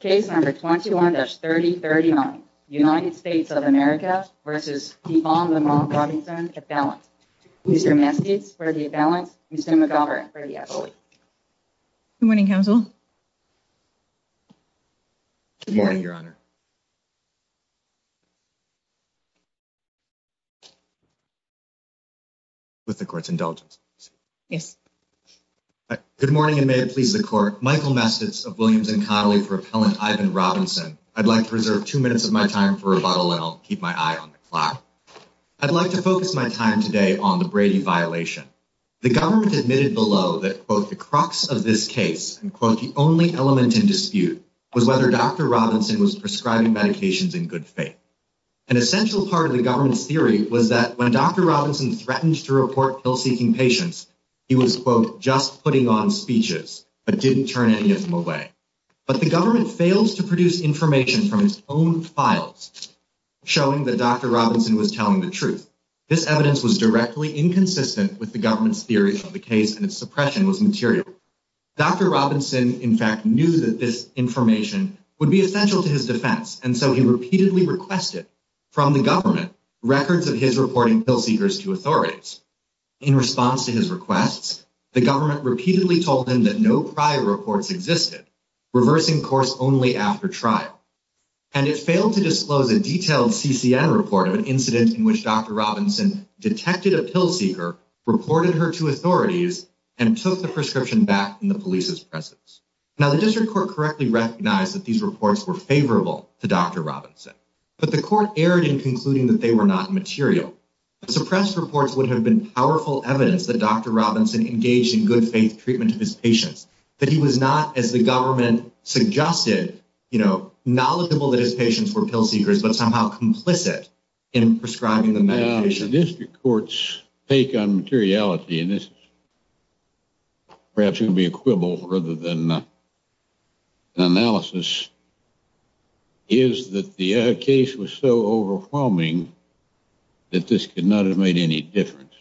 21-3039 United States of America v. Ivan Lamont Robinson, a balance. Mr. Mestiz, for the balance. Mr. McGovern, for the affiliate. Good morning, Counsel. Good morning, Your Honor. With the Court's indulgence. Yes. Good morning, and may it please the Court. Michael Mestiz of Williams and Connolly for Appellant Ivan Robinson. I'd like to reserve two minutes of my time for rebuttal, and I'll keep my eye on the clock. I'd like to focus my time today on the Brady violation. The government admitted below that, quote, the crux of this case, and quote, the only element in dispute was whether Dr. Robinson was prescribing medications in good faith. An essential part of the government's theory was that when Dr. Robinson threatened to report pill-seeking patients, he was, quote, just putting on speeches, but didn't turn any of them away. But the government fails to produce information from its own files showing that Dr. Robinson was telling the truth. This evidence was directly inconsistent with the government's theory of the case, and its suppression was material. Dr. Robinson, in fact, knew that this information would be essential to his defense, and so he repeatedly requested from the government records of his reporting pill-seekers to authorities. In response to his requests, the government repeatedly told him that no prior reports existed, reversing course only after trial. And it failed to disclose a detailed CCN report of an incident in which Dr. Robinson detected a pill-seeker, reported her to authorities, and took the prescription back in the police's presence. Now, the district court correctly recognized that these reports were favorable to Dr. Robinson, but the court erred in concluding that they were not material. Suppressed reports would have been powerful evidence that Dr. Robinson engaged in good-faith treatment of his patients, that he was not, as the government suggested, knowledgeable that his patients were pill-seekers, but somehow complicit in prescribing the medication. The district court's take on materiality, and this is perhaps going to be a quibble rather than an analysis, is that the case was so overwhelming that this could not have made any difference.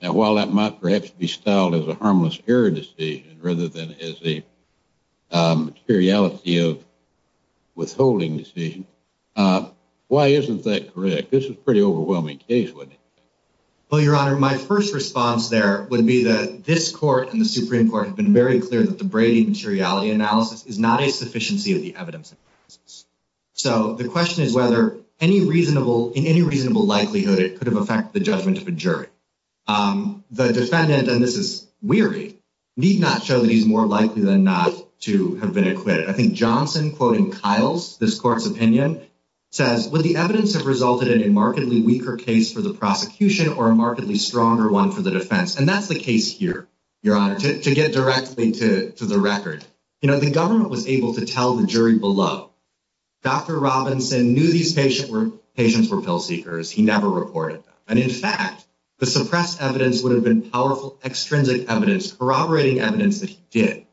Now, while that might perhaps be styled as a harmless error decision rather than as a materiality of withholding decision, why isn't that correct? This was a pretty overwhelming case, wasn't it? Well, Your Honor, my first response there would be that this court and the Supreme Court have been very clear that the Brady materiality analysis is not a sufficiency of the evidence. So the question is whether, in any reasonable likelihood, it could have affected the judgment of a jury. The defendant, and this is weary, need not show that he's more likely than not to have been acquitted. I think Johnson, quoting Kiles, this court's opinion, says, would the evidence have resulted in a markedly weaker case for the prosecution or a markedly stronger one for the defense? And that's the case here, Your Honor, to get directly to the record. You know, the government was able to tell the jury below, Dr. Robinson knew these patients were pill-seekers. He never reported them. And, in fact, the suppressed evidence would have been powerful extrinsic evidence, corroborating evidence that he did.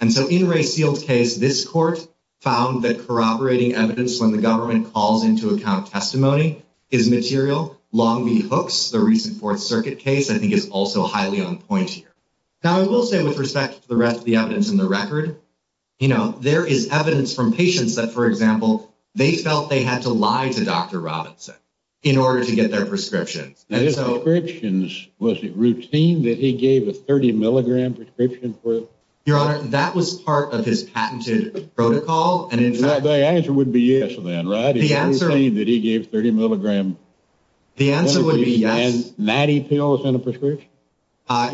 And so in Ray Seald's case, this court found that corroborating evidence when the government calls into account testimony is material. Long B. Hooks, the recent Fourth Circuit case, I think is also highly on point here. Now, I will say, with respect to the rest of the evidence in the record, you know, there is evidence from patients that, for example, they felt they had to lie to Dr. Robinson in order to get their prescriptions. And his prescriptions, was it routine that he gave a 30-milligram prescription for it? Your Honor, that was part of his patented protocol. And, in fact— The answer would be yes, then, right? The answer— Is it routine that he gave a 30-milligram— The answer would be yes. —natty pills in a prescription?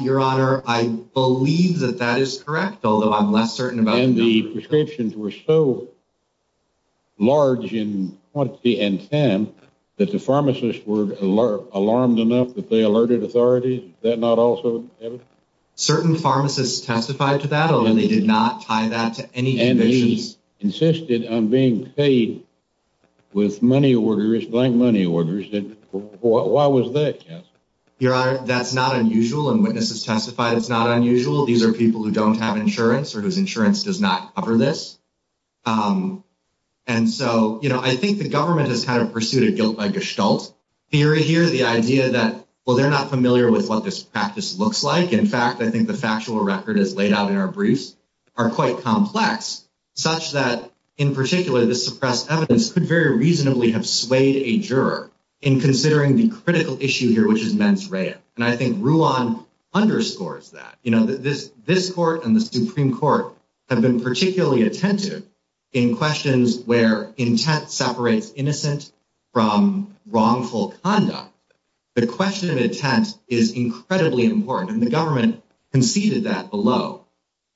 Your Honor, I believe that that is correct, although I'm less certain about— And the prescriptions were so large in quantity and time that the pharmacists were alarmed enough that they alerted authorities? Is that not also evidence? Certain pharmacists testified to that, although they did not tie that to any convictions. And he insisted on being paid with money orders, blank money orders. Why was that, counsel? Your Honor, that's not unusual, and witnesses testified it's not unusual. These are people who don't have insurance or whose insurance does not cover this. And so, you know, I think the government has kind of pursued a guilt by gestalt theory here, the idea that, well, they're not familiar with what this practice looks like. In fact, I think the factual record, as laid out in our briefs, are quite complex, such that, in particular, this suppressed evidence could very reasonably have swayed a juror in considering the critical issue here, which is mens rea. And I think Ruan underscores that. You know, this Court and the Supreme Court have been particularly attentive in questions where intent separates innocent from wrongful conduct. The question of intent is incredibly important, and the government conceded that below.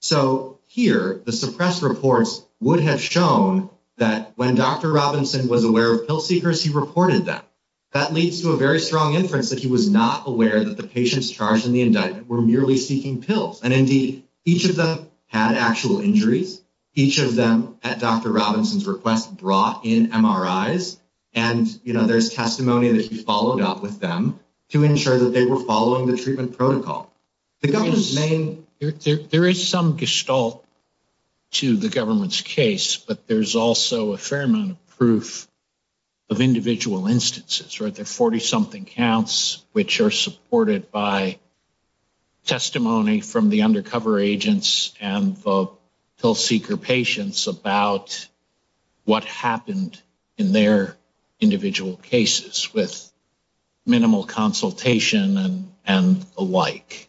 So here, the suppressed reports would have shown that when Dr. Robinson was aware of pill seekers, he reported them. That leads to a very strong inference that he was not aware that the patients charged in the indictment were merely seeking pills. And, indeed, each of them had actual injuries. Each of them, at Dr. Robinson's request, brought in MRIs. And, you know, there's testimony that he followed up with them to ensure that they were following the treatment protocol. There is some gestalt to the government's case, but there's also a fair amount of proof of individual instances, right? There are 40-something counts, which are supported by testimony from the undercover agents and the pill seeker patients about what happened in their individual cases with minimal consultation and the like.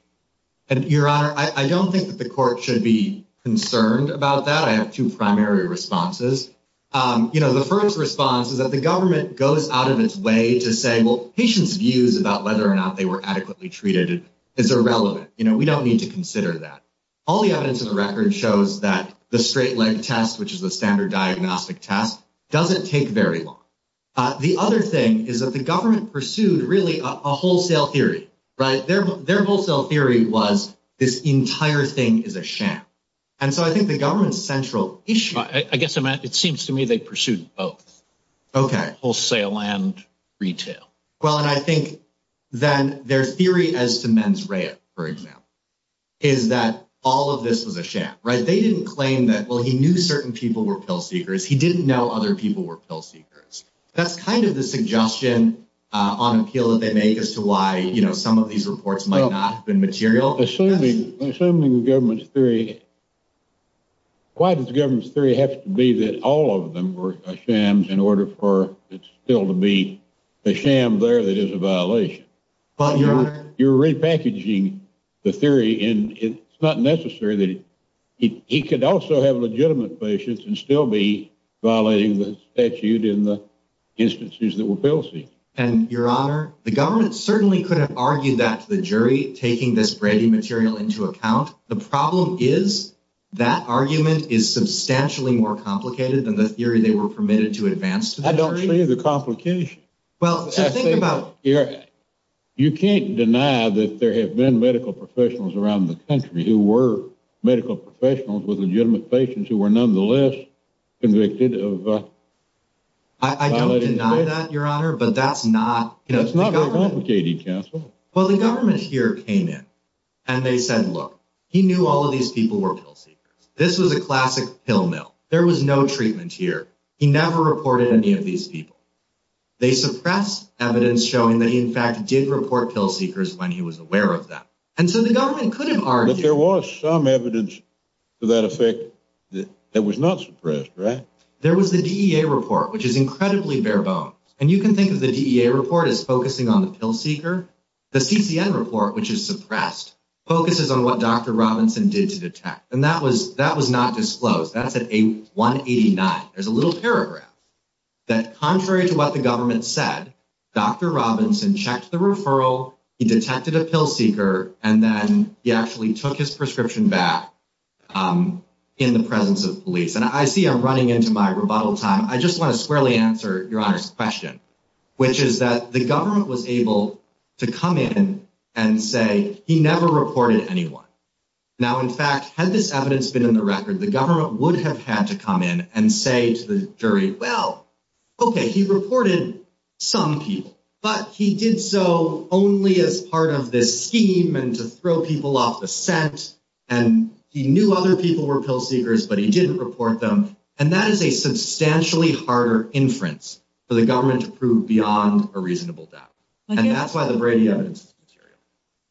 And, Your Honor, I don't think that the Court should be concerned about that. I have two primary responses. You know, the first response is that the government goes out of its way to say, well, patients' views about whether or not they were adequately treated is irrelevant. You know, we don't need to consider that. All the evidence in the record shows that the straight-leg test, which is the standard diagnostic test, doesn't take very long. The other thing is that the government pursued, really, a wholesale theory, right? Their wholesale theory was this entire thing is a sham. And so I think the government's central issue— I guess it seems to me they pursued both. Okay. Wholesale and retail. Well, and I think then their theory as to mens rea, for example, is that all of this was a sham, right? They didn't claim that, well, he knew certain people were pill seekers. He didn't know other people were pill seekers. That's kind of the suggestion on appeal that they make as to why, you know, some of these reports might not have been material. Assuming the government's theory, why does the government's theory have to be that all of them were shams in order for it still to be a sham there that is a violation? Well, Your Honor— You're repackaging the theory, and it's not necessary that he could also have legitimate patients and still be violating the statute in the instances that were pill seekers. And, Your Honor, the government certainly could have argued that to the jury, taking this Brady material into account. The problem is that argument is substantially more complicated than the theory they were permitted to advance to the jury. I don't see the complication. Well, so think about— You can't deny that there have been medical professionals around the country who were medical professionals with legitimate patients who were nonetheless convicted of— I don't deny that, Your Honor, but that's not— That's not very complicated, counsel. Well, the government here came in, and they said, look, he knew all of these people were pill seekers. This was a classic pill mill. There was no treatment here. He never reported any of these people. They suppressed evidence showing that he, in fact, did report pill seekers when he was aware of them. And so the government could have argued— But there was some evidence to that effect that was not suppressed, right? There was the DEA report, which is incredibly bare bones. And you can think of the DEA report as focusing on the pill seeker. The CCN report, which is suppressed, focuses on what Dr. Robinson did to detect. And that was not disclosed. That's at 189. There's a little paragraph that, contrary to what the government said, Dr. Robinson checked the referral. He detected a pill seeker. And then he actually took his prescription back in the presence of police. And I see I'm running into my rebuttal time. I just want to squarely answer Your Honor's question, which is that the government was able to come in and say he never reported anyone. Now, in fact, had this evidence been in the record, the government would have had to come in and say to the jury, well, okay, he reported some people. But he did so only as part of this scheme and to throw people off the scent. And he knew other people were pill seekers, but he didn't report them. And that is a substantially harder inference for the government to prove beyond a reasonable doubt. And that's why the Brady evidence is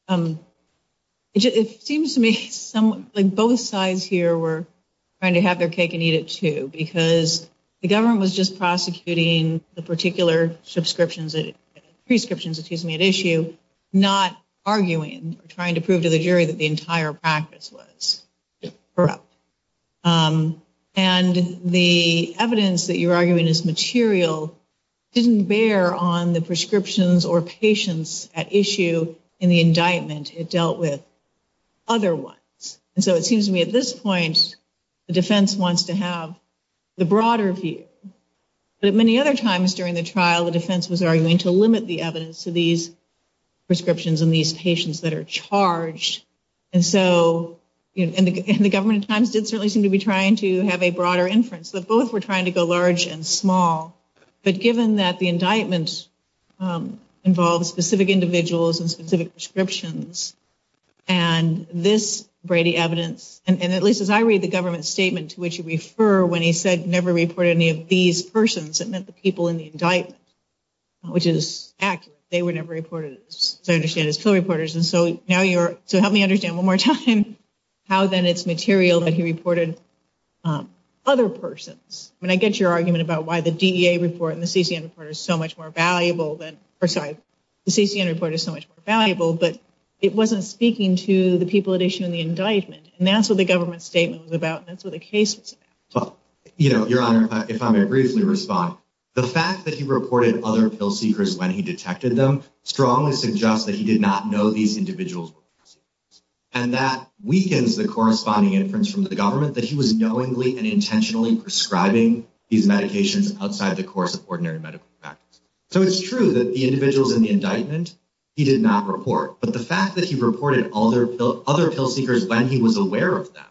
material. It seems to me like both sides here were trying to have their cake and eat it, too, because the government was just prosecuting the particular prescriptions at issue, not arguing or trying to prove to the jury that the entire practice was corrupt. And the evidence that you're arguing is material didn't bear on the prescriptions or patients at issue in the indictment. It dealt with other ones. And so it seems to me at this point the defense wants to have the broader view. But at many other times during the trial, the defense was arguing to limit the evidence to these prescriptions and these patients that are charged. And so the government at times did certainly seem to be trying to have a broader inference, that both were trying to go large and small. But given that the indictment involves specific individuals and specific prescriptions, and this Brady evidence, and at least as I read the government statement to which you refer, when he said never reported any of these persons, it meant the people in the indictment, which is accurate. They were never reported, as I understand, as pill reporters. And so help me understand one more time how, then, it's material that he reported other persons. I mean, I get your argument about why the DEA report and the CCN report is so much more valuable. Sorry, the CCN report is so much more valuable, but it wasn't speaking to the people at issue in the indictment. And that's what the government statement was about, and that's what the case was about. Your Honor, if I may briefly respond, the fact that he reported other pill seekers when he detected them strongly suggests that he did not know these individuals were pill seekers. And that weakens the corresponding inference from the government that he was knowingly and intentionally prescribing these medications outside the course of ordinary medical practice. So it's true that the individuals in the indictment he did not report. But the fact that he reported other pill seekers when he was aware of them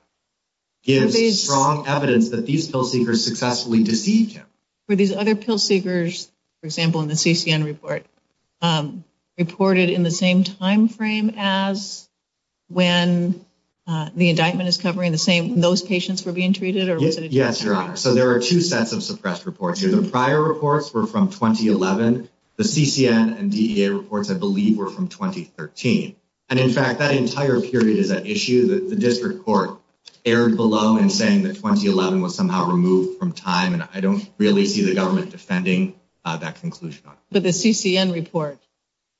gives strong evidence that these pill seekers successfully deceived him. Were these other pill seekers, for example, in the CCN report, reported in the same timeframe as when the indictment is covering those patients who were being treated, or was it a different timeframe? Yes, Your Honor. So there are two sets of suppressed reports here. The prior reports were from 2011. The CCN and DEA reports, I believe, were from 2013. And, in fact, that entire period is at issue. The district court erred below in saying that 2011 was somehow removed from time, and I don't really see the government defending that conclusion. But the CCN report,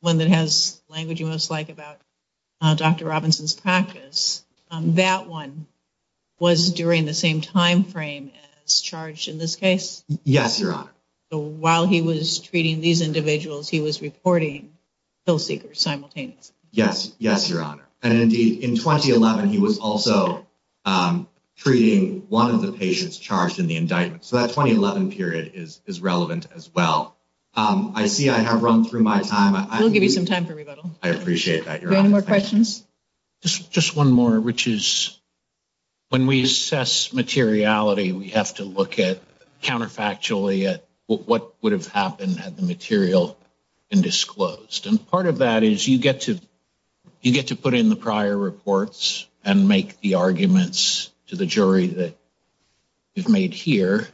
one that has language you most like about Dr. Robinson's practice, that one was during the same timeframe as charged in this case? Yes, Your Honor. So while he was treating these individuals, he was reporting pill seekers simultaneously? Yes. Yes, Your Honor. And, indeed, in 2011, he was also treating one of the patients charged in the indictment. So that 2011 period is relevant as well. I see I have run through my time. We'll give you some time for rebuttal. I appreciate that, Your Honor. Any more questions? Just one more, which is when we assess materiality, we have to look counterfactually at what would have happened had the material been disclosed. And part of that is you get to put in the prior reports and make the arguments to the jury that you've made here.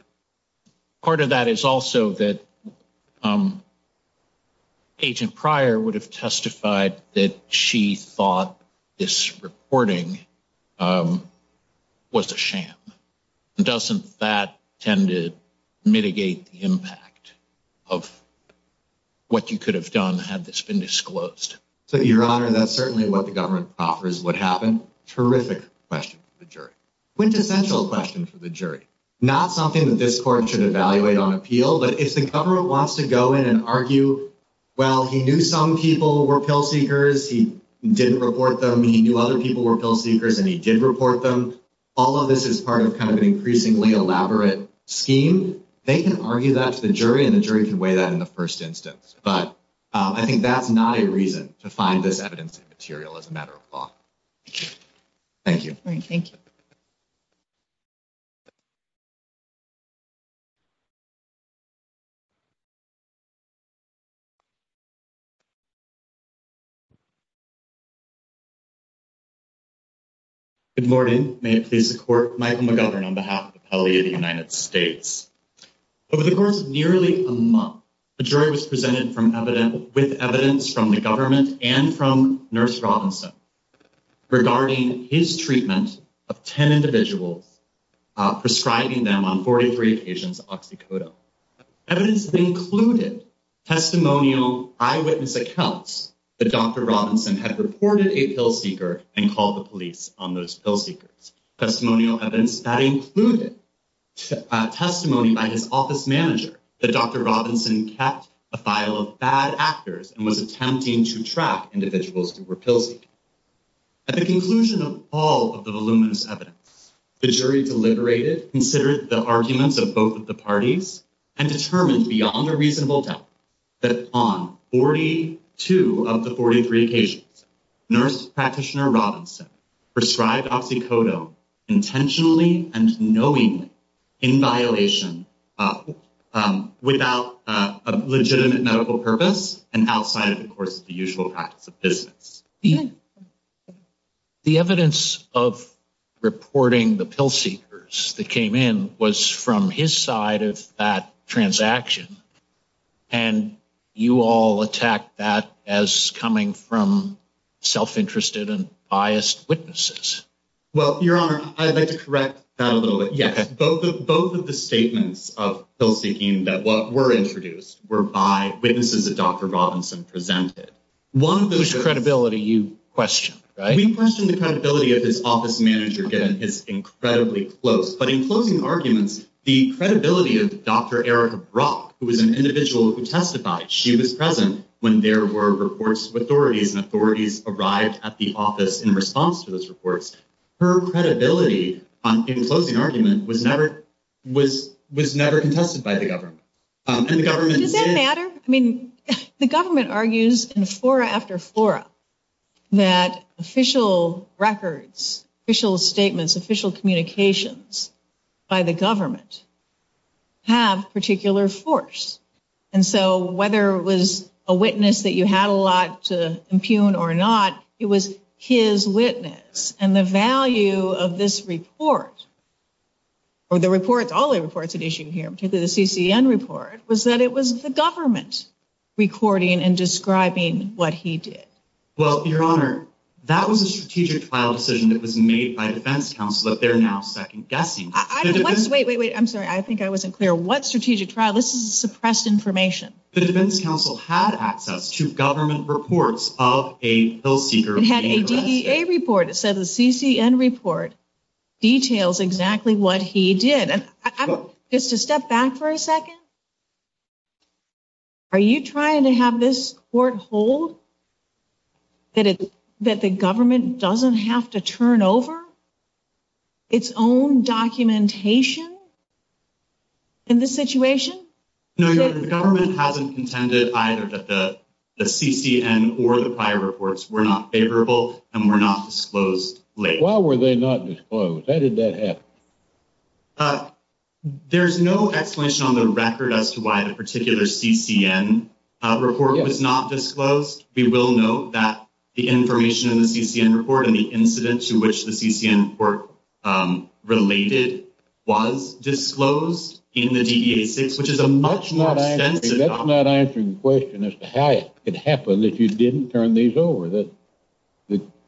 Part of that is also that Agent Pryor would have testified that she thought this reporting was a sham. Doesn't that tend to mitigate the impact of what you could have done had this been disclosed? Your Honor, that's certainly what the government offers what happened. Terrific question for the jury. Quintessential question for the jury. Not something that this court should evaluate on appeal, but if the government wants to go in and argue, well, he knew some people were pill seekers. He didn't report them. He knew other people were pill seekers, and he did report them. All of this is part of kind of an increasingly elaborate scheme. They can argue that to the jury, and the jury can weigh that in the first instance. But I think that's not a reason to find this evidence material as a matter of law. Thank you. All right, thank you. Good morning. May it please the Court, Michael McGovern on behalf of the Appellee of the United States. Over the course of nearly a month, a jury was presented with evidence from the government and from Nurse Robinson regarding his treatment of 10 individuals, prescribing them on 43 occasions oxycodone. Evidence that included testimonial eyewitness accounts that Dr. Robinson had reported a pill seeker and called the police on those pill seekers. Testimonial evidence that included testimony by his office manager that Dr. Robinson kept a file of bad actors and was attempting to track individuals who were pill seekers. At the conclusion of all of the voluminous evidence, the jury deliberated, considered the arguments of both of the parties, and determined beyond a reasonable doubt that on 42 of the 43 occasions, Nurse Practitioner Robinson prescribed oxycodone intentionally and knowingly in violation without a legitimate medical purpose and outside, of course, the usual practice of business. The evidence of reporting the pill seekers that came in was from his side of that transaction, and you all attacked that as coming from self-interested and biased witnesses. Well, Your Honor, I'd like to correct that a little bit. Yes, both of the statements of pill seeking that were introduced were by witnesses that Dr. Robinson presented. One of those credibility you questioned, right? We questioned the credibility of his office manager given his incredibly close, but in closing arguments, the credibility of Dr. Erica Brock, who was an individual who testified, she was present when there were reports with authorities, and authorities arrived at the office in response to those reports. Her credibility in closing argument was never contested by the government. Does that matter? I mean, the government argues in flora after flora that official records, official statements, official communications by the government have particular force. And so whether it was a witness that you had a lot to impugn or not, it was his witness. And the value of this report or the reports, all the reports at issue here, particularly the CCN report, was that it was the government recording and describing what he did. Well, Your Honor, that was a strategic trial decision that was made by defense counsel, but they're now second guessing. Wait, wait, wait. I'm sorry. I think I wasn't clear. What strategic trial? This is suppressed information. The defense counsel had access to government reports of a pill seeker being arrested. It had a DEA report. It said the CCN report details exactly what he did. Just to step back for a second, are you trying to have this court hold that the government doesn't have to turn over its own documentation in this situation? No, Your Honor. The government hasn't contended either that the CCN or the prior reports were not favorable and were not disclosed late. Why were they not disclosed? How did that happen? There's no explanation on the record as to why the particular CCN report was not disclosed. We will note that the information in the CCN report and the incident to which the CCN report related was disclosed in the DEA 6, which is a much more extensive document. That's not answering the question as to how it could happen if you didn't turn these over. The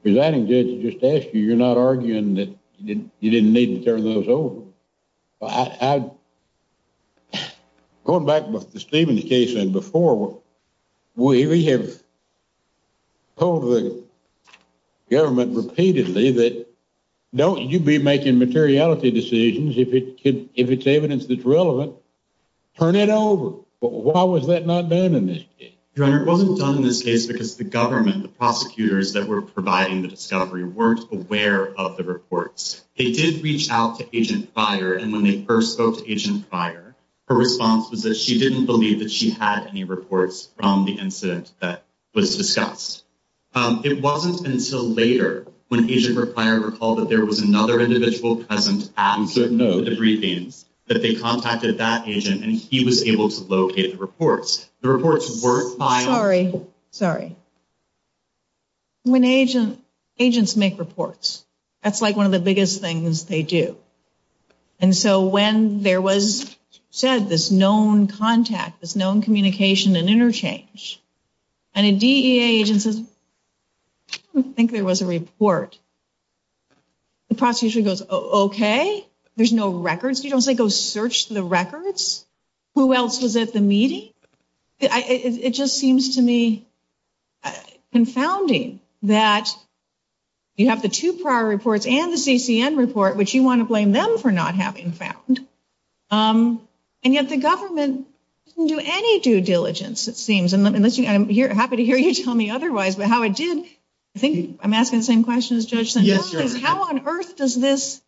presiding judge just asked you. You're not arguing that you didn't need to turn those over. Going back to Stephen's case and before, we have told the government repeatedly that don't you be making materiality decisions. If it's evidence that's relevant, turn it over. Why was that not done in this case? Your Honor, it wasn't done in this case because the government, the prosecutors that were providing the discovery, weren't aware of the reports. They did reach out to Agent Pryor and when they first spoke to Agent Pryor, her response was that she didn't believe that she had any reports from the incident that was discussed. It wasn't until later when Agent Pryor recalled that there was another individual present at the briefings that they contacted that agent and he was able to locate the reports. The reports were filed... Sorry. When agents make reports, that's like one of the biggest things they do. And so when there was said this known contact, this known communication and interchange, and a DEA agent says, I don't think there was a report, the prosecutor goes, okay, there's no records? You don't say go search the records? Who else was at the meeting? It just seems to me confounding that you have the two prior reports and the CCN report, which you want to blame them for not having found. And yet the government didn't do any due diligence, it seems. I'm happy to hear you tell me otherwise, but how it did... I think I'm asking the same question as Judge Santana. How on earth does this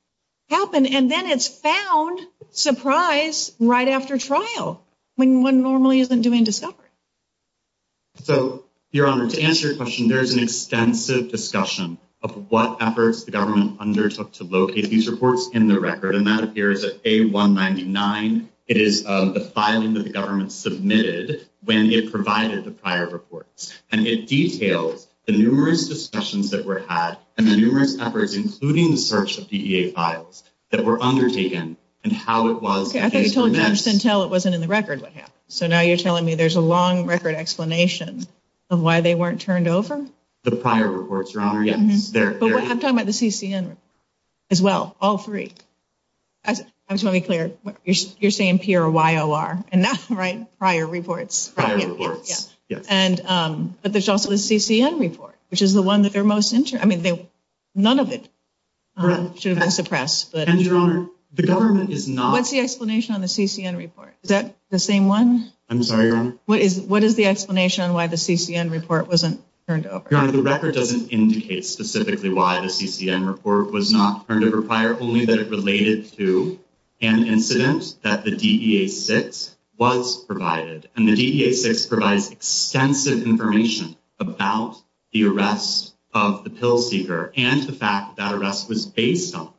happen? And then it's found, surprise, right after trial, when one normally isn't doing discovery. So, Your Honor, to answer your question, there is an extensive discussion of what efforts the government undertook to locate these reports in the record, and that appears at A199. It is the filing that the government submitted when it provided the prior reports. And it details the numerous discussions that were had and the numerous efforts, including the search of DEA files, that were undertaken and how it was... Okay, I thought you told Judge Santel it wasn't in the record what happened. So now you're telling me there's a long record explanation of why they weren't turned over? The prior reports, Your Honor, yes. But I'm talking about the CCN as well, all three. I just want to be clear, you're saying P or YOR, and not prior reports. Prior reports, yes. But there's also the CCN report, which is the one that they're most interested in. I mean, none of it should have been suppressed. And, Your Honor, the government is not... What's the explanation on the CCN report? Is that the same one? I'm sorry, Your Honor. What is the explanation on why the CCN report wasn't turned over? Your Honor, the record doesn't indicate specifically why the CCN report was not turned over prior, only that it related to an incident that the DEA-6 was provided. And the DEA-6 provides extensive information about the arrest of the pill seeker and the fact that that arrest was based on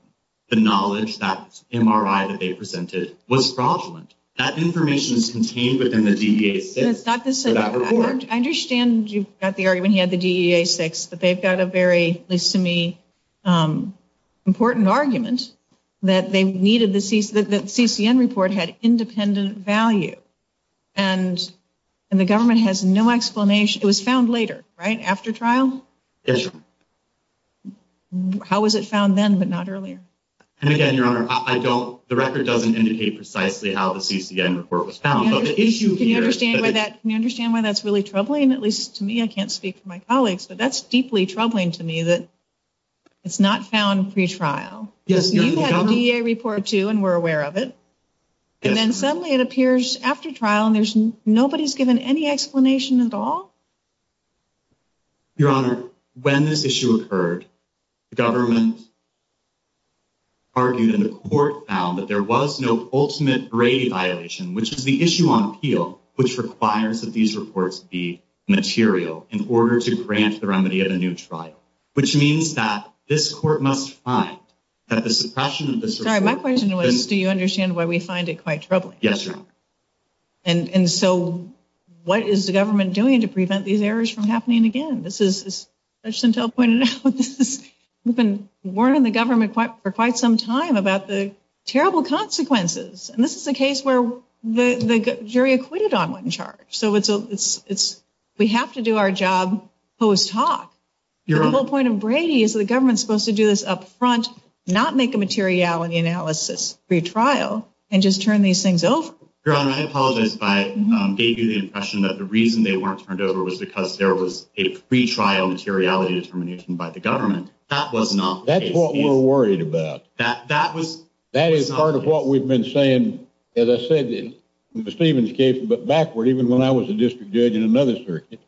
the knowledge that the MRI that they presented was fraudulent. That information is contained within the DEA-6 for that report. I understand you've got the argument he had the DEA-6, but they've got a very, at least to me, important argument that the CCN report had independent value. And the government has no explanation. It was found later, right? After trial? Yes, Your Honor. How was it found then but not earlier? And again, Your Honor, I don't... The record doesn't indicate precisely how the CCN report was found, but the issue here... Can you understand why that's really troubling? At least to me, I can't speak for my colleagues, but that's deeply troubling to me that it's not found pretrial. You've had a DEA report, too, and we're aware of it. And then suddenly it appears after trial and nobody's given any explanation at all? Your Honor, when this issue occurred, the government argued and the court found that there was no ultimate grade violation, which is the issue on appeal, which requires that these reports be material in order to grant the remedy of a new trial, which means that this court must find that the suppression of this report... Yes, Your Honor. And so what is the government doing to prevent these errors from happening again? As Judge Santel pointed out, we've been warning the government for quite some time about the terrible consequences. And this is a case where the jury acquitted on one charge. So we have to do our job post-talk. But the whole point of Brady is the government's supposed to do this up front, not make a materiality analysis pretrial, and just turn these things over. Your Honor, I apologize if I gave you the impression that the reason they weren't turned over was because there was a pretrial materiality determination by the government. That was not the case. That's what we're worried about. That was not the case. That is part of what we've been saying, as I said, in the Stevens case, but backward, even when I was a district judge in another circuit,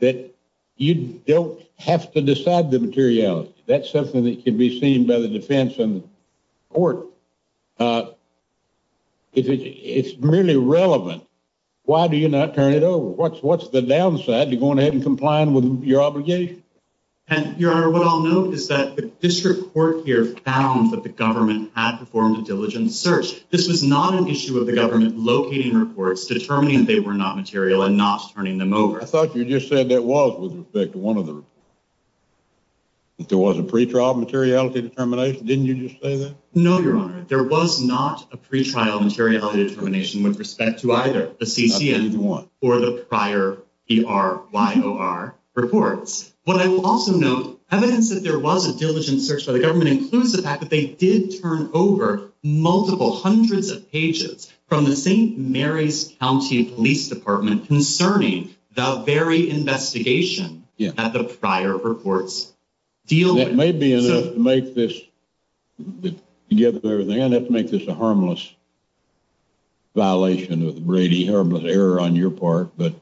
that you don't have to decide the materiality. That's something that can be seen by the defense and court. It's merely relevant. Why do you not turn it over? What's the downside to going ahead and complying with your obligation? Your Honor, what I'll note is that the district court here found that the government had performed a diligent search. This was not an issue of the government locating reports, determining they were not material, and not turning them over. I thought you just said that was with respect to one of the reports, that there was a pretrial materiality determination. Didn't you just say that? No, Your Honor. There was not a pretrial materiality determination with respect to either the CCM or the prior PRYOR reports. What I will also note, evidence that there was a diligent search by the government includes the fact that they did turn over multiple hundreds of pages from the St. Mary's County Police Department concerning the very investigation that the prior reports deal with. That may be enough to make this a harmless violation of Brady, a harmless error on your part, but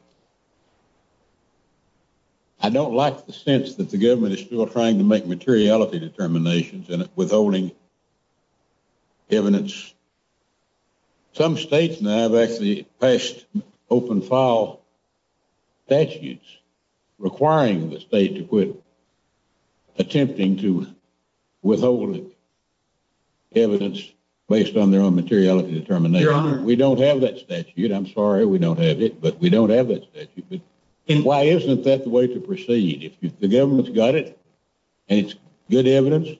I don't like the sense that the government is still trying to make Some states now have actually passed open file statutes requiring the state to quit attempting to withhold evidence based on their own materiality determination. Your Honor. We don't have that statute. I'm sorry we don't have it, but we don't have that statute. Why isn't that the way to proceed? If the government's got it and it's good evidence,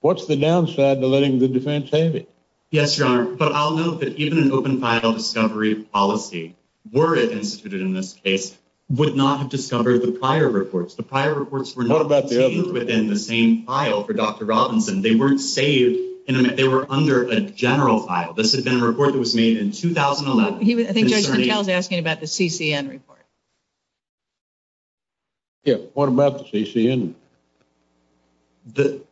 what's the downside to letting the defense have it? Yes, Your Honor. But I'll note that even an open file discovery policy, were it instituted in this case, would not have discovered the prior reports. The prior reports were not saved within the same file for Dr. Robinson. They weren't saved. They were under a general file. This had been a report that was made in 2011. I think Judge McKell is asking about the CCM report. Yeah, what about the CCM? The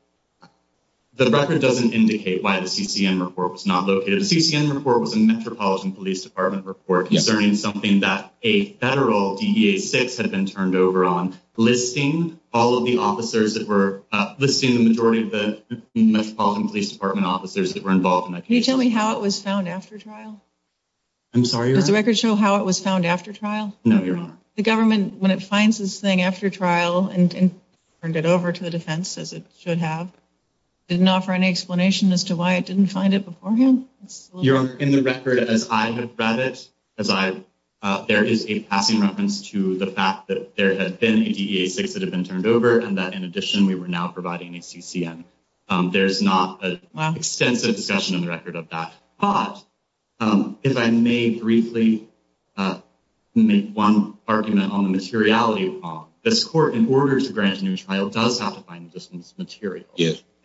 record doesn't indicate why the CCM report was not located. The CCM report was a Metropolitan Police Department report concerning something that a federal DEA 6 had been turned over on, listing the majority of the Metropolitan Police Department officers that were involved in that case. Can you tell me how it was found after trial? I'm sorry, Your Honor. No, Your Honor. The government, when it finds this thing after trial and turned it over to the defense, as it should have, didn't offer any explanation as to why it didn't find it beforehand? Your Honor, in the record as I have read it, there is a passing reference to the fact that there had been a DEA 6 that had been turned over and that, in addition, we were now providing a CCM. There's not an extensive discussion in the record of that. But if I may briefly make one argument on the materiality, Your Honor, this court, in order to grant a new trial, does have to find this material.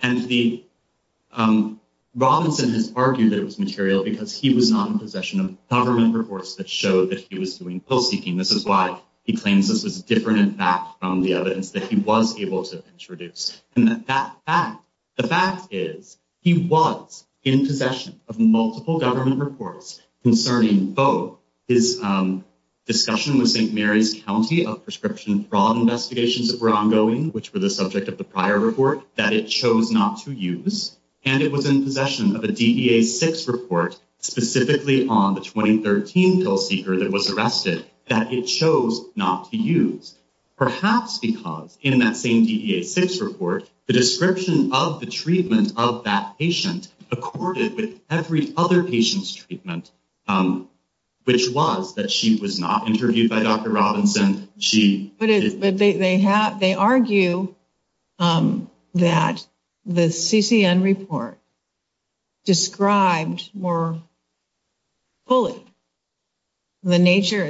And Robinson has argued that it was material because he was not in possession of government reports that showed that he was doing pill-seeking. This is why he claims this is different, in fact, from the evidence that he was able to introduce. The fact is, he was in possession of multiple government reports concerning both his discussion with St. Mary's County of prescription fraud investigations that were ongoing, which were the subject of the prior report, that it chose not to use, and it was in possession of a DEA 6 report, specifically on the 2013 pill seeker that was arrested, that it chose not to use. Perhaps because, in that same DEA 6 report, the description of the treatment of that patient accorded with every other patient's treatment, which was that she was not interviewed by Dr. Robinson. But they argue that the CCM report described more fully the nature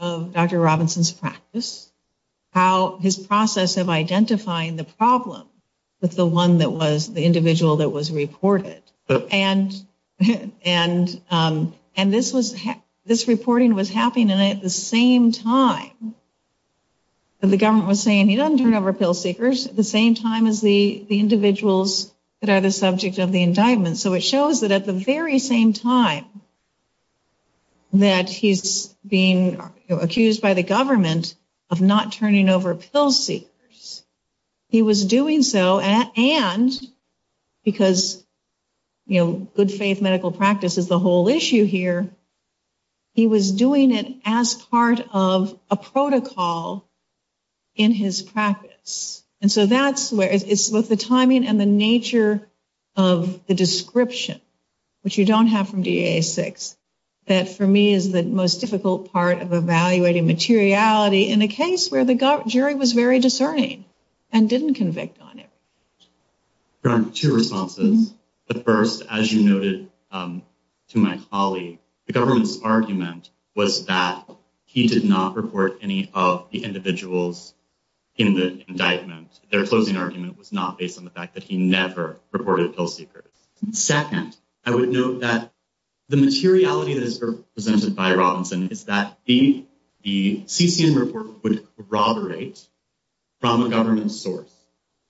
of Dr. Robinson's practice, how his process of identifying the problem with the individual that was reported. And this reporting was happening at the same time that the government was saying, he doesn't turn over pill seekers, at the same time as the individuals that are the subject of the indictment. So it shows that at the very same time that he's being accused by the government of not turning over pill seekers, he was doing so, and because good faith medical practice is the whole issue here, he was doing it as part of a protocol in his practice. And so that's where it's both the timing and the nature of the description, which you don't have from DEA 6, that for me is the most difficult part of evaluating materiality in a case where the jury was very discerning and didn't convict on it. Two responses. The first, as you noted to my colleague, the government's argument was that he did not report any of the individuals in the indictment. Their closing argument was not based on the fact that he never reported pill seekers. Second, I would note that the materiality that is represented by Robinson is that the CCN report would corroborate from the government's source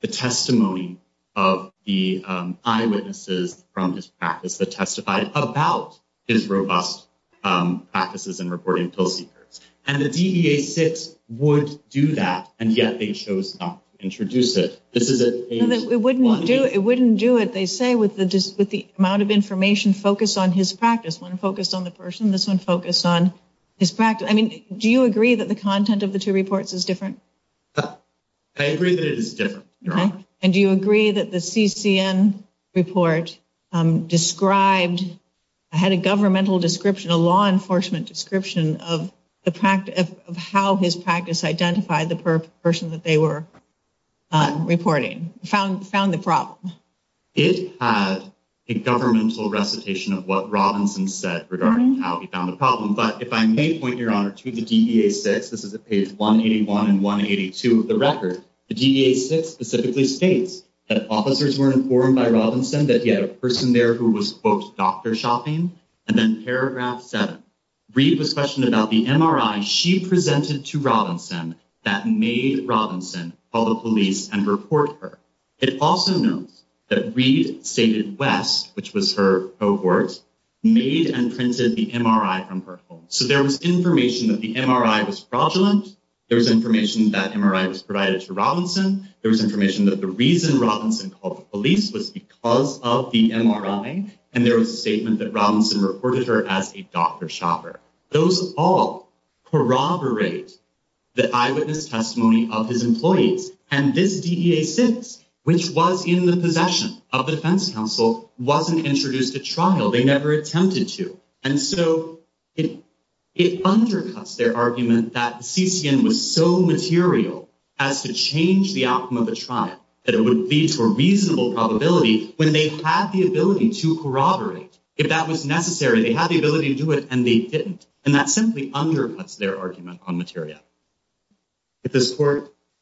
the testimony of the eyewitnesses from his practice that testified about his robust practices in reporting pill seekers. And the DEA 6 would do that, and yet they chose not to introduce it. It wouldn't do it, they say, with the amount of information focused on his practice. One focused on the person, this one focused on his practice. I mean, do you agree that the content of the two reports is different? I agree that it is different, Your Honor. And do you agree that the CCN report described, had a governmental description, a law enforcement description of how his practice identified the person that they were reporting, found the problem? It had a governmental recitation of what Robinson said regarding how he found the problem. But if I may point, Your Honor, to the DEA 6, this is at page 181 and 182 of the record, the DEA 6 specifically states that officers were informed by Robinson that he had a person there who was, quote, doctor shopping, and then paragraph seven, Reed was questioned about the MRI she presented to Robinson that made Robinson call the police and report her. It also notes that Reed stated West, which was her cohort, made and printed the MRI from her home. So there was information that the MRI was fraudulent, there was information that MRI was provided to Robinson, there was information that the reason Robinson called the police was because of the MRI, and there was a statement that Robinson reported her as a doctor shopper. Those all corroborate the eyewitness testimony of his employees, and this DEA 6, which was in the possession of the defense counsel, wasn't introduced at trial. They never attempted to. And so it undercuts their argument that CCN was so material as to change the outcome of a trial that it would lead to a reasonable probability when they had the ability to corroborate. If that was necessary, they had the ability to do it, and they didn't. And that simply undercuts their argument on material.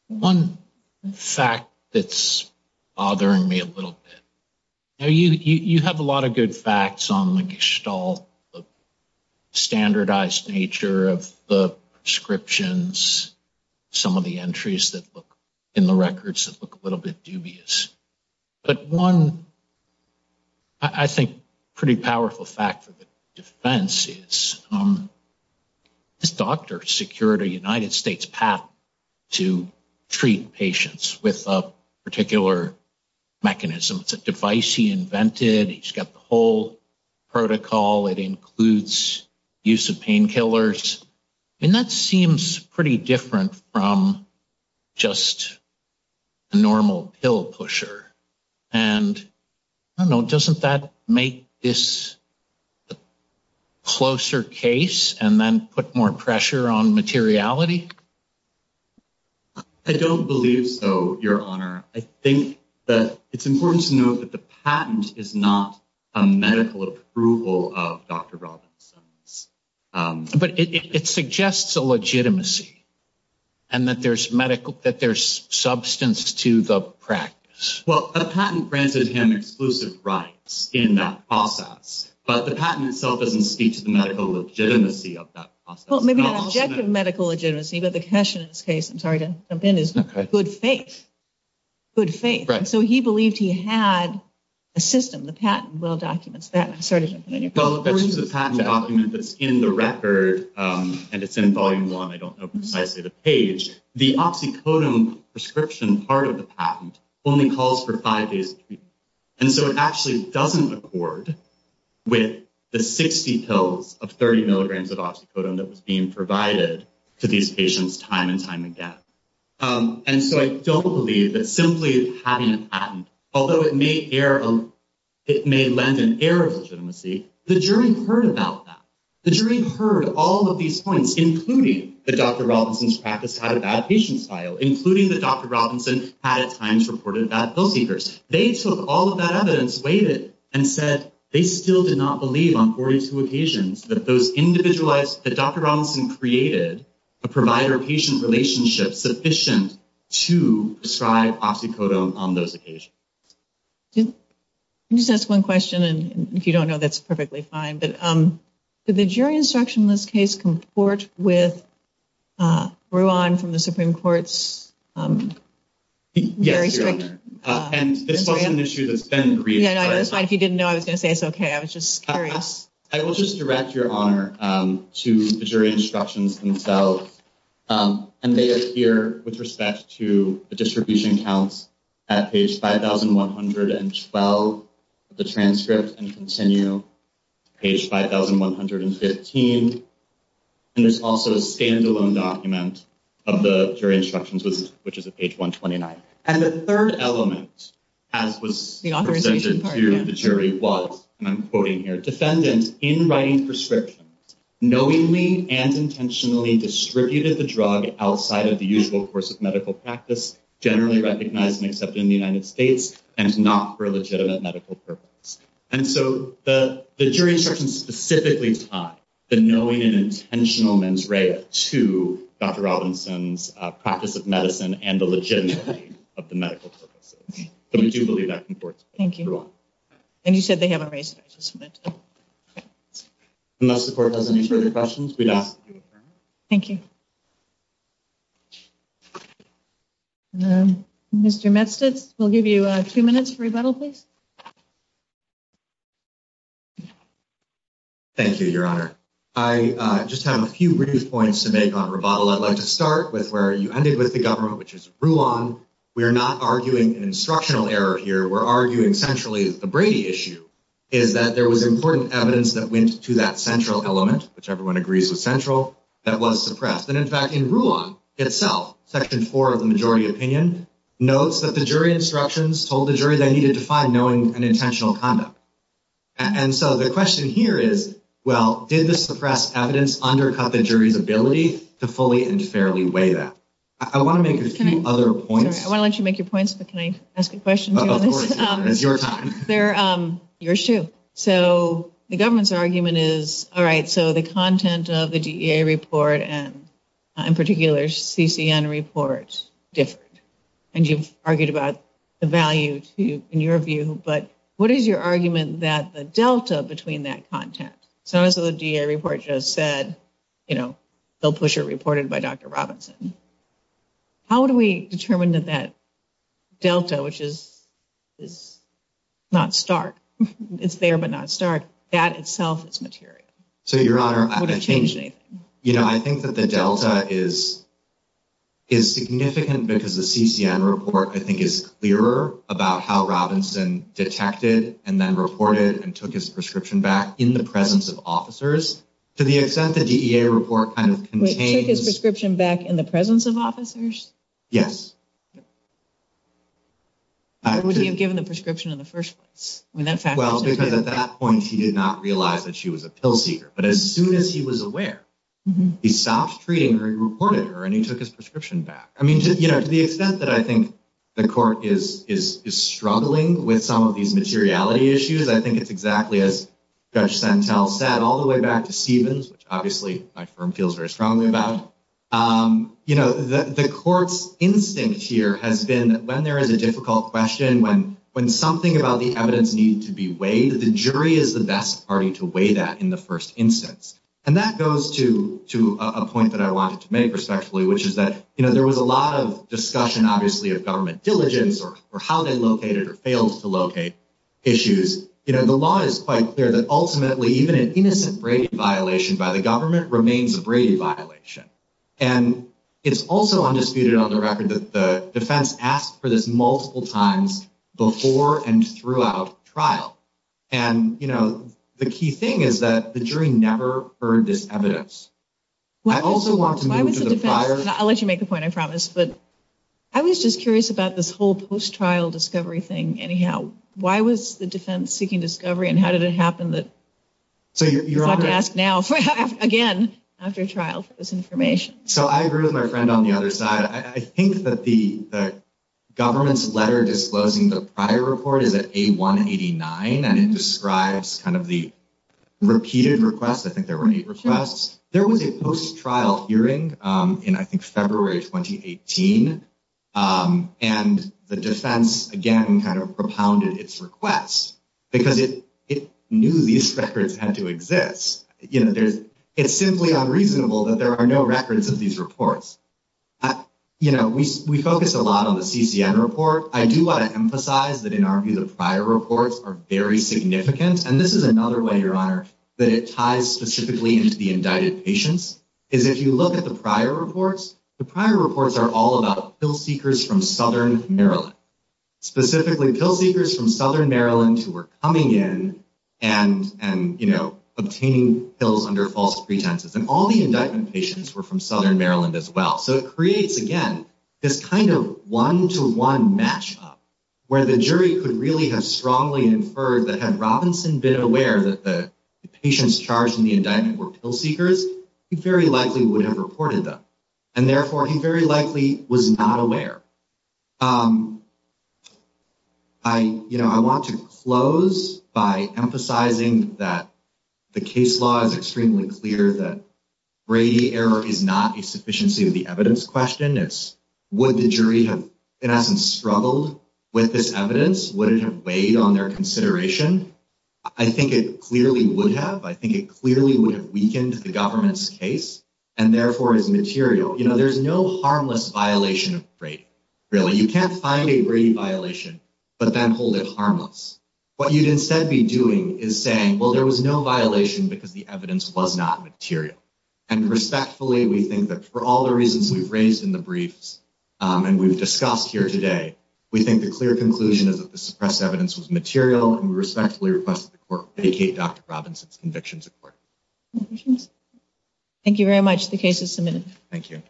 One fact that's bothering me a little bit. You have a lot of good facts on the Gestalt, the standardized nature of the prescriptions, some of the entries in the records that look a little bit dubious. But one, I think, pretty powerful fact for the defense is this doctor secured a United States patent to treat patients with a particular mechanism. It's a device he invented. He's got the whole protocol. It includes use of painkillers. And that seems pretty different from just a normal pill pusher. And, I don't know, doesn't that make this a closer case and then put more pressure on materiality? I don't believe so, Your Honor. I think that it's important to note that the patent is not a medical approval of Dr. Robinson's. But it suggests a legitimacy and that there's substance to the practice. Well, a patent granted him exclusive rights in that process, but the patent itself doesn't speak to the medical legitimacy of that process. Well, maybe not objective medical legitimacy, but the question in this case, I'm sorry to jump in, is good faith. Good faith. And so he believed he had a system. The patent well documents that. Well, there is a patent document that's in the record, and it's in Volume 1. I don't know precisely the page. The oxycodone prescription part of the patent only calls for five days. And so it actually doesn't accord with the 60 pills of 30 milligrams of oxycodone that was being provided to these patients time and time again. And so I don't believe that simply having a patent, although it may lend an air of legitimacy, the jury heard about that. The jury heard all of these points, including that Dr. Robinson's practice had a bad patient style, including that Dr. Robinson had at times reported bad pill seekers. They took all of that evidence, weighed it, and said they still did not believe on 42 occasions that Dr. Robinson created a provider-patient relationship sufficient to prescribe oxycodone on those occasions. Can I just ask one question? And if you don't know, that's perfectly fine. But did the jury instruction in this case comport with Rouen from the Supreme Court's very strict? Yes, Your Honor. And this wasn't an issue that's been briefed. Yeah, no, that's fine. If you didn't know, I was going to say it's okay. I was just curious. I will just direct Your Honor to the jury instructions themselves. And they appear with respect to the distribution counts at page 5,112 of the transcript and continue to page 5,115. And there's also a standalone document of the jury instructions, which is at page 129. And the third element, as was presented to the jury, was, and I'm quoting here, defendant, in writing prescriptions, knowingly and intentionally distributed the drug outside of the usual course of medical practice, generally recognized and accepted in the United States, and not for a legitimate medical purpose. And so the jury instructions specifically tie the knowing and intentional mens rea to Dr. Robinson's practice of medicine and the legitimacy of the medical purposes. But we do believe that comports with Rouen. Thank you. And you said they haven't raised it. I just wanted to know. Unless the court has any further questions, we'd ask that you affirm it. Thank you. Mr. Metzlitz, we'll give you two minutes for rebuttal, please. Thank you, Your Honor. I just have a few brief points to make on rebuttal. I'd like to start with where you ended with the government, which is Rouen. We are not arguing an instructional error here. We're arguing centrally the Brady issue, is that there was important evidence that went to that central element, which everyone agrees was central, that was suppressed. And, in fact, in Rouen itself, Section 4 of the majority opinion, notes that the jury instructions told the jury they needed to find knowing and intentional conduct. And so the question here is, well, did the suppressed evidence undercut the jury's ability to fully and fairly weigh that? I want to make a few other points. I want to let you make your points, but can I ask a question? Of course. It's your time. Yours, too. So the government's argument is, all right, so the content of the DEA report and, in particular, CCN report differed. And you've argued about the value, in your view, but what is your argument that the delta between that content, so as the DEA report just said, you know, Bill Pusher reported by Dr. Robinson, how do we determine that that delta, which is not stark, it's there but not stark, that itself is material? So, Your Honor, I think that the delta is significant because the CCN report, I think, is clearer about how Robinson detected and then reported and took his prescription back in the presence of officers. To the extent the DEA report kind of contains- Wait, took his prescription back in the presence of officers? Yes. Or would he have given the prescription in the first place? Well, because at that point, he did not realize that she was a pill seeker. But as soon as he was aware, he stopped treating her and reported her, and he took his prescription back. I mean, you know, to the extent that I think the court is struggling with some of these materiality issues, I think it's exactly as Judge Sentelle said, all the way back to Stevens, which obviously my firm feels very strongly about. You know, the court's instinct here has been that when there is a difficult question, when something about the evidence needed to be weighed, the jury is the best party to weigh that in the first instance. And that goes to a point that I wanted to make respectfully, which is that, you know, there was a lot of discussion, obviously, of government diligence or how they located or failed to locate issues. You know, the law is quite clear that ultimately even an innocent Brady violation by the government remains a Brady violation. And it's also undisputed on the record that the defense asked for this multiple times before and throughout trial. And, you know, the key thing is that the jury never heard this evidence. I also want to move to the prior. I'll let you make the point, I promise. But I was just curious about this whole post-trial discovery thing. Anyhow, why was the defense seeking discovery and how did it happen that you're going to ask now, again, after trial for this information? So I agree with my friend on the other side. I think that the government's letter disclosing the prior report is at A189, and it describes kind of the repeated requests. I think there were eight requests. There was a post-trial hearing in, I think, February 2018. And the defense, again, kind of propounded its request because it knew these records had to exist. You know, it's simply unreasonable that there are no records of these reports. You know, we focus a lot on the CCN report. I do want to emphasize that, in our view, the prior reports are very significant. And this is another way, Your Honor, that it ties specifically into the indicted patients, is if you look at the prior reports, the prior reports are all about pill seekers from Southern Maryland, specifically pill seekers from Southern Maryland who were coming in and, you know, obtaining pills under false pretenses. And all the indictment patients were from Southern Maryland as well. So it creates, again, this kind of one-to-one match-up where the jury could really have strongly inferred that had Robinson been aware that the patients charged in the indictment were pill seekers, he very likely would have reported them. And, therefore, he very likely was not aware. I, you know, I want to close by emphasizing that the case law is extremely clear that Brady error is not a sufficiency of the evidence question. It's would the jury have, in essence, struggled with this evidence? Would it have weighed on their consideration? I think it clearly would have. I think it clearly would have weakened the government's case and, therefore, is material. You know, there's no harmless violation of Brady, really. You can't find a Brady violation but then hold it harmless. What you'd instead be doing is saying, well, there was no violation because the evidence was not material. And, respectfully, we think that for all the reasons we've raised in the briefs and we've discussed here today, we think the clear conclusion is that the suppressed evidence was material, and we respectfully request that the court vacate Dr. Robinson's convictions in court. Thank you very much. The case is submitted. Thank you.